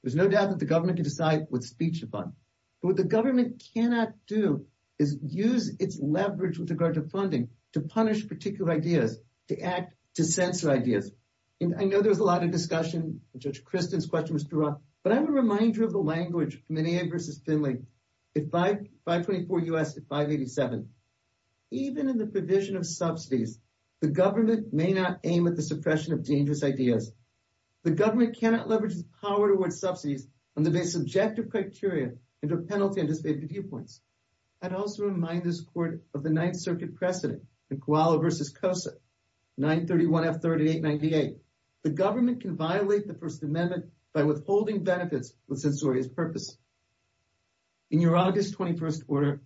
There's no doubt that the government can decide what speech to fund. But what the government cannot do is use its leverage with regard to funding to punish particular ideas, to act to censor ideas. And I know there's a lot of discussion. Judge Kristen's question was too long. But I'm a reminder of the language, Menier versus Finley, at 524 U.S. at 587. Even in the provision of subsidies, the government may not aim at the suppression of dangerous ideas. The government cannot leverage its power towards subsidies on the basis of objective criteria and a penalty on disfavored viewpoints. I'd also remind this Court of the Ninth Circuit precedent, the Koala versus Cosa, 931 F 3898. The government can violate the First Amendment by withholding benefits with censorious purpose. In your August 21st order,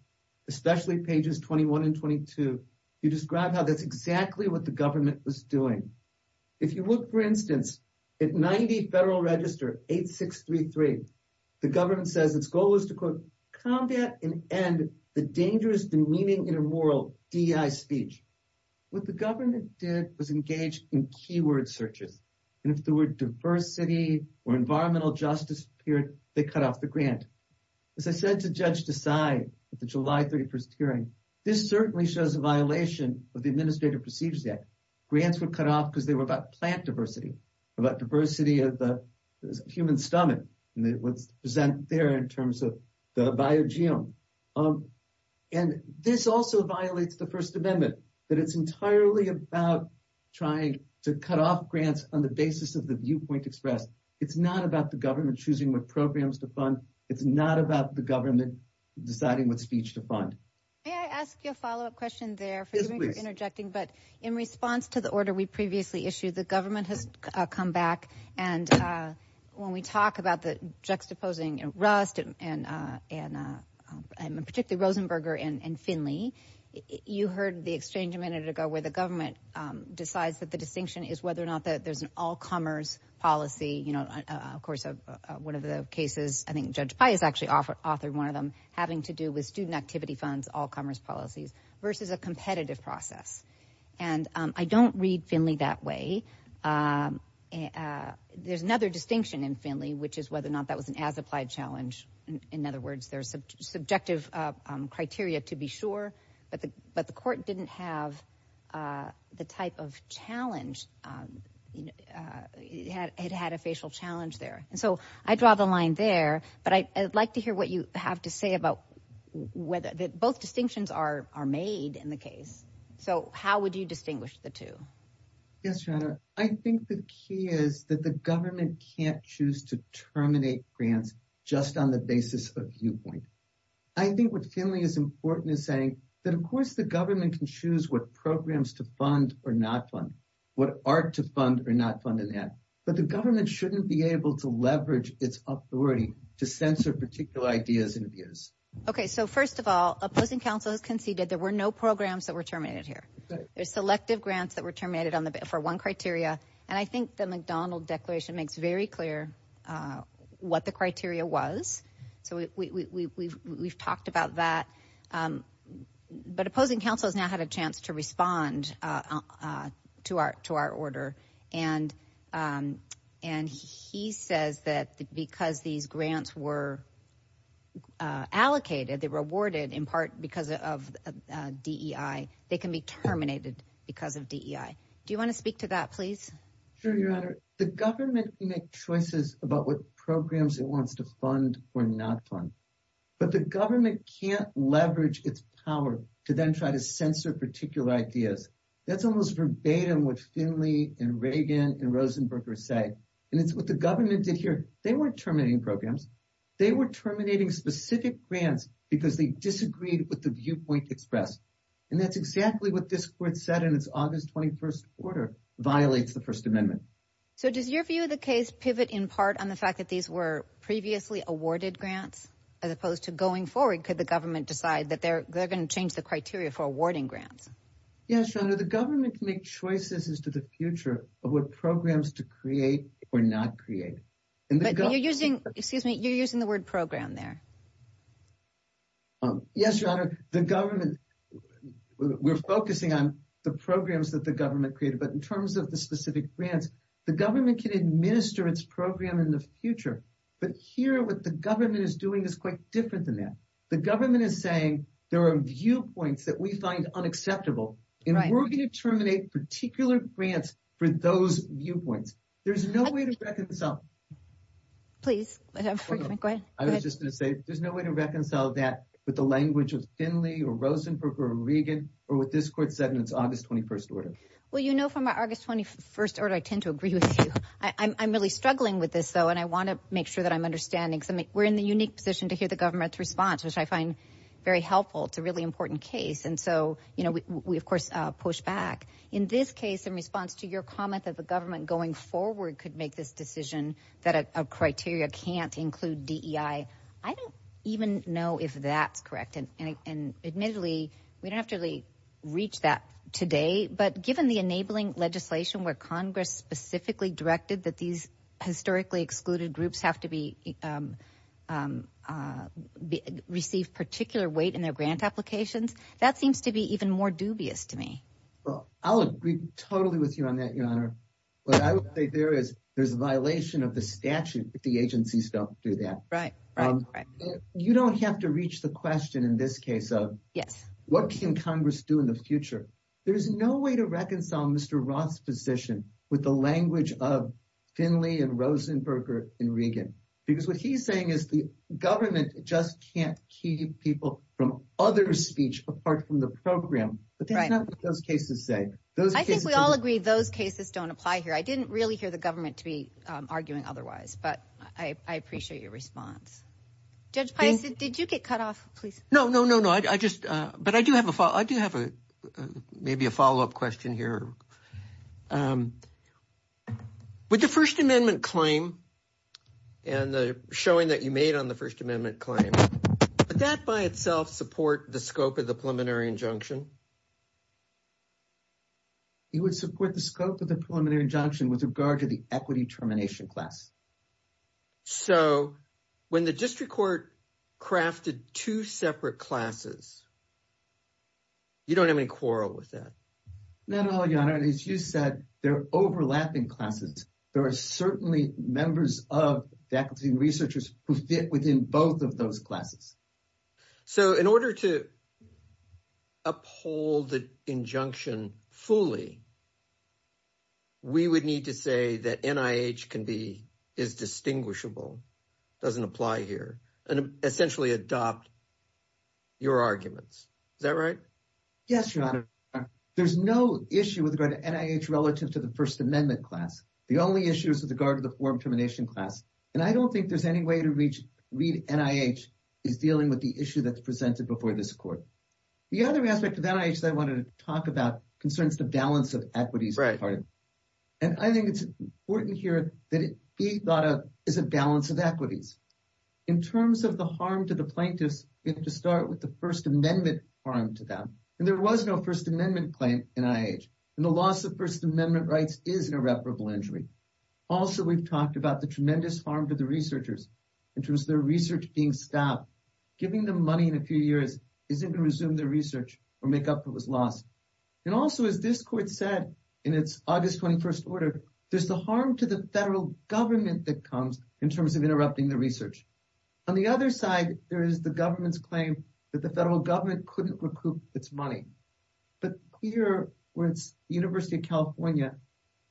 especially pages 21 and 22, you describe how that's exactly what the government was doing. If you look, for instance, at 90 Federal Register 8633, the government says its goal is to, quote, combat and end the dangerous, demeaning, immoral DEI speech. What the government did was engage in keyword searches. And if there were diversity or environmental justice appeared, they cut off the grant. As I said to Judge Desai at the July 31st hearing, this certainly shows a violation of the Administrative Procedures Act. Grants were cut off because they were about plant diversity, about diversity of the human stomach, and it was present there in terms of the biogeome. And this also violates the First Amendment, that it's entirely about trying to cut off grants on the basis of the viewpoint expressed. It's not about the government choosing what programs to fund. It's not about the government deciding what speech to fund. May I ask you a follow-up question there? Forgive me for interjecting, but in response to the order we previously issued, the government has come back. And when we talk about the juxtaposing in Rust and particularly Rosenberger and Finley, you heard the exchange a minute ago where the government decides that the distinction is whether or not that there's an all-comers policy. You know, of course, one of the cases, I think Judge Pius actually authored one of them, having to do with student activity funds, all-comers policies versus a competitive process. And I don't read Finley that way. There's another distinction in Finley, which is whether or not that was an as-applied challenge. In other words, there's subjective criteria to be sure, but the court didn't have the type of challenge. It had a facial challenge there. And so I draw the line there, but I'd like to hear what you have to say about whether both distinctions are made in the case. So how would you distinguish the two? Yes, Your Honor. I think the key is that the government can't choose to terminate grants just on the basis of viewpoint. I think what Finley is important is saying that of course the government can choose what programs to fund or not fund, what art to fund or not fund in that. But the government shouldn't be able to leverage its authority to censor particular ideas and views. Okay, so first of all, opposing counsel has conceded there were no programs that were terminated here. There's selective grants that were terminated for one criteria. And I think the McDonald Declaration makes very clear what the criteria was. So we've talked about that, but opposing counsel has now had a chance to respond to our order. And he says that because these grants were allocated, they were awarded in part because of DEI, they can be terminated because of DEI. Do you wanna speak to that, please? Sure, Your Honor. The government can make choices about what programs it wants to fund or not fund, but the government can't leverage its power to then try to censor particular ideas. That's almost verbatim what Finley and Reagan and Rosenberger say. And it's what the government did here. They weren't terminating programs. They were terminating specific grants because they disagreed with the viewpoint expressed. And that's exactly what this court said in its August 21st order, violates the First Amendment. So does your view of the case pivot in part on the fact that these were previously awarded grants as opposed to going forward, could the government decide that they're gonna change the criteria for awarding grants? Yes, Your Honor, the government can make choices as to the future of what programs to create or not create. But you're using, excuse me, you're using the word program there. Yes, Your Honor, the government, we're focusing on the programs that the government created, but in terms of the specific grants, the government can administer its program in the future. But here what the government is doing is quite different than that. The government is saying there are viewpoints that we find unacceptable, and we're gonna terminate particular grants for those viewpoints. There's no way to reconcile. Please, go ahead. I was just gonna say, there's no way to reconcile that with the language of Finley or Rosenberg or Reagan or what this court said in its August 21st order. Well, you know, from my August 21st order, I tend to agree with you. I'm really struggling with this though, and I wanna make sure that I'm understanding because we're in the unique position to hear the government's response, which I find very helpful. It's a really important case. And so we, of course, push back. In this case, in response to your comment that the government going forward could make this decision that a criteria can't include DEI, I don't even know if that's correct. And admittedly, we don't have to really reach that today, but given the enabling legislation where Congress specifically directed that these historically excluded groups have to receive particular weight in their grant applications, that seems to be even more dubious to me. Well, I'll agree totally with you on that, Your Honor. What I would say there is, there's a violation of the statute if the agencies don't do that. Right, right, right. You don't have to reach the question in this case of- Yes. What can Congress do in the future? There's no way to reconcile Mr. Roth's position with the language of Finley and Rosenberger and Regan, because what he's saying is the government just can't keep people from other speech apart from the program. But that's not what those cases say. I think we all agree those cases don't apply here. I didn't really hear the government to be arguing otherwise, but I appreciate your response. Judge Pius, did you get cut off, please? No, no, no, no. I just, but I do have a follow-up question here. With the First Amendment claim and the showing that you made on the First Amendment claim, would that by itself support the scope of the preliminary injunction? It would support the scope of the preliminary injunction with regard to the equity termination class. So when the district court crafted two separate classes, you don't have any quarrel with that? Not at all, Your Honor. As you said, they're overlapping classes. There are certainly members of faculty and researchers who fit within both of those classes. So in order to uphold the injunction fully, we would need to say that NIH can be, is distinguishable, doesn't apply here, and essentially adopt your arguments. Is that right? Yes, Your Honor. There's no issue with regard to NIH relative to the First Amendment class. The only issue is with regard to the form termination class. And I don't think there's any way to reach, read NIH is dealing with the issue that's presented before this court. The other aspect of NIH that I wanted to talk about concerns the balance of equities. And I think it's important here that it be thought of as a balance of equities. In terms of the harm to the plaintiffs, we have to start with the First Amendment harm to them. And there was no First Amendment claim in NIH. And the loss of First Amendment rights is an irreparable injury. Also, we've talked about the tremendous harm to the researchers in terms of their research being stopped. Giving them money in a few years isn't gonna resume their research or make up for what was lost. And also, as this court said, in its August 21st order, there's the harm to the federal government that comes in terms of interrupting the research. On the other side, there is the government's claim that the federal government couldn't recoup its money. But here, where it's University of California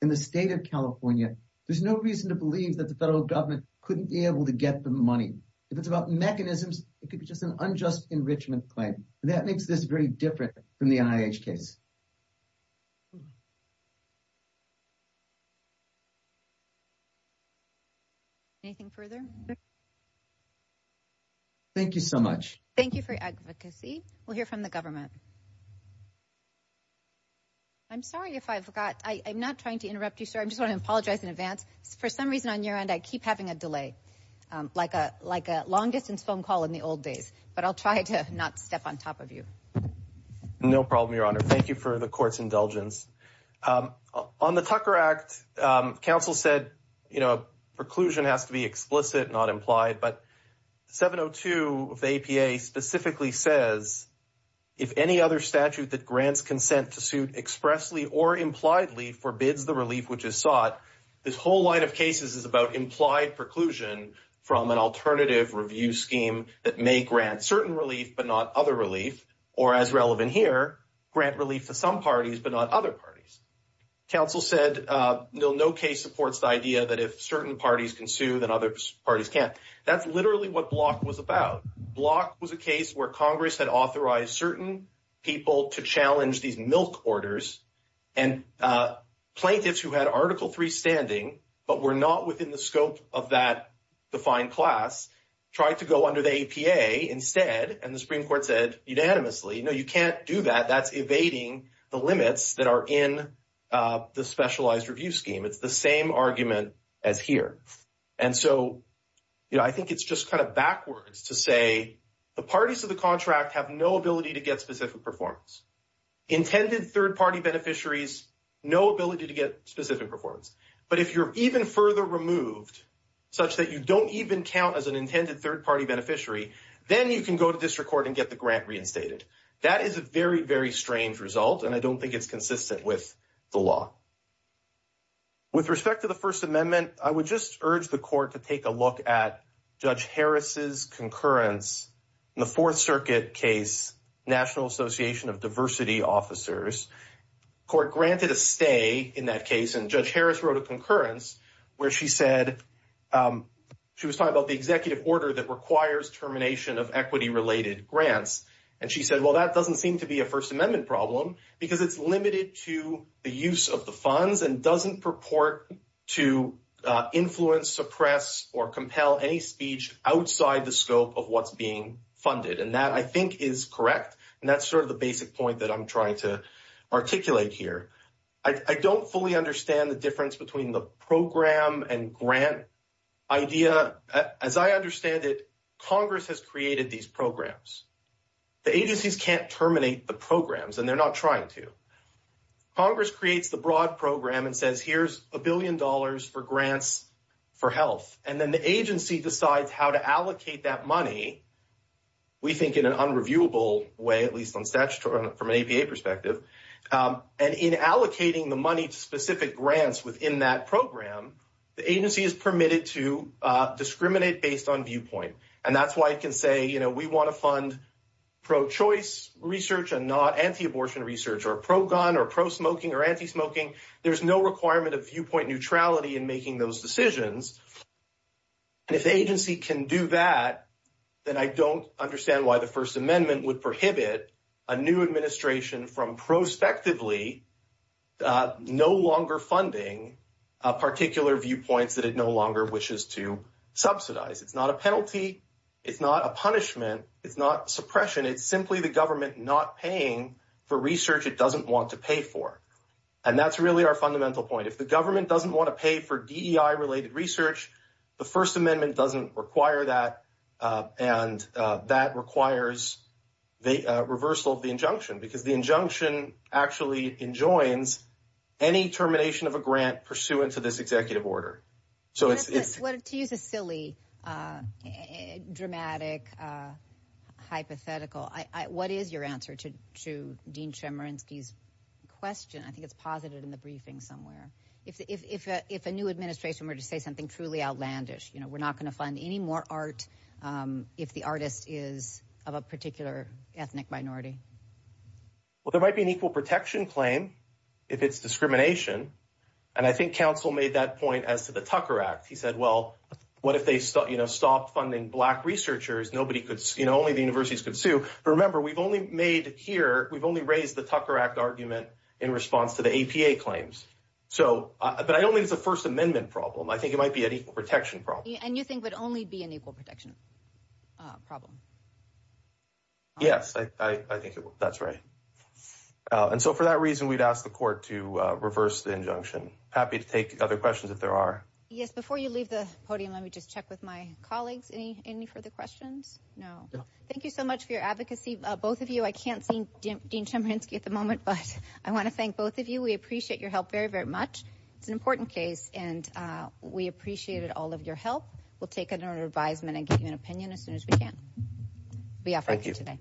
and the state of California, there's no reason to believe that the federal government couldn't be able to get the money. If it's about mechanisms, it could be just an unjust enrichment claim. And that makes this very different from the NIH case. Anything further? Thank you so much. Thank you for your advocacy. We'll hear from the government. I'm sorry if I forgot. I'm not trying to interrupt you, sir. I just want to apologize in advance. For some reason on your end, I keep having a delay. Like a long-distance phone call in the old days. But I'll try to not step on top of you. No problem, Your Honor. Thank you for the court's indulgence. On the Tucker Act, counsel said, you know, a preclusion has to be explicit, not implied. But 702 of the APA specifically says, if any other statute that grants consent to suit expressly or impliedly forbids the relief which is sought, this whole line of cases is about implied preclusion from an alternative review scheme that may grant certain relief, but not other relief. Or as relevant here, grant relief to some parties, but not other parties. Counsel said, no case supports the idea that if certain parties can sue, then other parties can't. That's literally what Block was about. Block was a case where Congress had authorized certain people to challenge these milk orders. And plaintiffs who had Article III standing, but were not within the scope of that defined class, tried to go under the APA instead. And the Supreme Court said unanimously, no, you can't do that. That's evading the limits that are in the specialized review scheme. It's the same argument as here. And so, you know, I think it's just kind of backwards to say the parties of the contract have no ability to get specific performance. Intended third-party beneficiaries, no ability to get specific performance. But if you're even further removed, such that you don't even count as an intended third-party beneficiary, then you can go to district court and get the grant reinstated. That is a very, very strange result. And I don't think it's consistent with the law. With respect to the First Amendment, I would just urge the court to take a look at Judge Harris's concurrence in the Fourth Circuit case, National Association of Diversity Officers. Court granted a stay in that case, and Judge Harris wrote a concurrence where she said, she was talking about the executive order that requires termination of equity-related grants. And she said, well, that doesn't seem to be a First Amendment problem because it's limited to the use of the funds and doesn't purport to influence, suppress, or compel any speech outside the scope of what's being funded. And that I think is correct. And that's sort of the basic point that I'm trying to articulate here. I don't fully understand the difference between the program and grant idea. As I understand it, Congress has created these programs. The agencies can't terminate the programs, and they're not trying to. Congress creates the broad program and says, here's a billion dollars for grants for health. And then the agency decides how to allocate that money. We think in an unreviewable way, at least on statutory, from an APA perspective. And in allocating the money to specific grants within that program, the agency is permitted to discriminate based on viewpoint. And that's why it can say, we want to fund pro-choice research and not anti-abortion research or pro-gun or pro-smoking or anti-smoking. There's no requirement of viewpoint neutrality in making those decisions. And if the agency can do that, then I don't understand why the First Amendment would prohibit a new administration from prospectively no longer funding particular viewpoints that it no longer wishes to subsidize. It's not a penalty. It's not a punishment. It's not suppression. It's simply the government not paying for research it doesn't want to pay for. And that's really our fundamental point. If the government doesn't want to pay for DEI-related research, the First Amendment doesn't require that. And that requires the reversal of the injunction because the injunction actually enjoins any termination of a grant pursuant to this executive order. So it's- To use a silly, dramatic, hypothetical, what is your answer to Dean Chemerinsky's question? I think it's posited in the briefing somewhere. If a new administration were to say something truly outlandish, we're not going to fund any more art if the artist is of a particular ethnic minority. Well, there might be an equal protection claim if it's discrimination. And I think counsel made that point as to the Tucker Act. He said, well, what if they stopped funding Black researchers? Only the universities could sue. But remember, we've only made here, we've only raised the Tucker Act argument in response to the APA claims. So, but I don't think it's a First Amendment problem. I think it might be an equal protection problem. And you think would only be an equal protection problem? Yes, I think that's right. And so for that reason, we'd ask the court to reverse the injunction. Happy to take other questions if there are. Yes, before you leave the podium, let me just check with my colleagues. Any further questions? No. Thank you so much for your advocacy. Both of you, I can't see Dean Chemerinsky at the moment, but I want to thank both of you. We appreciate your help very, very much. It's an important case, and we appreciated all of your help. We'll take another advisement and give you an opinion as soon as we can. We offer you today.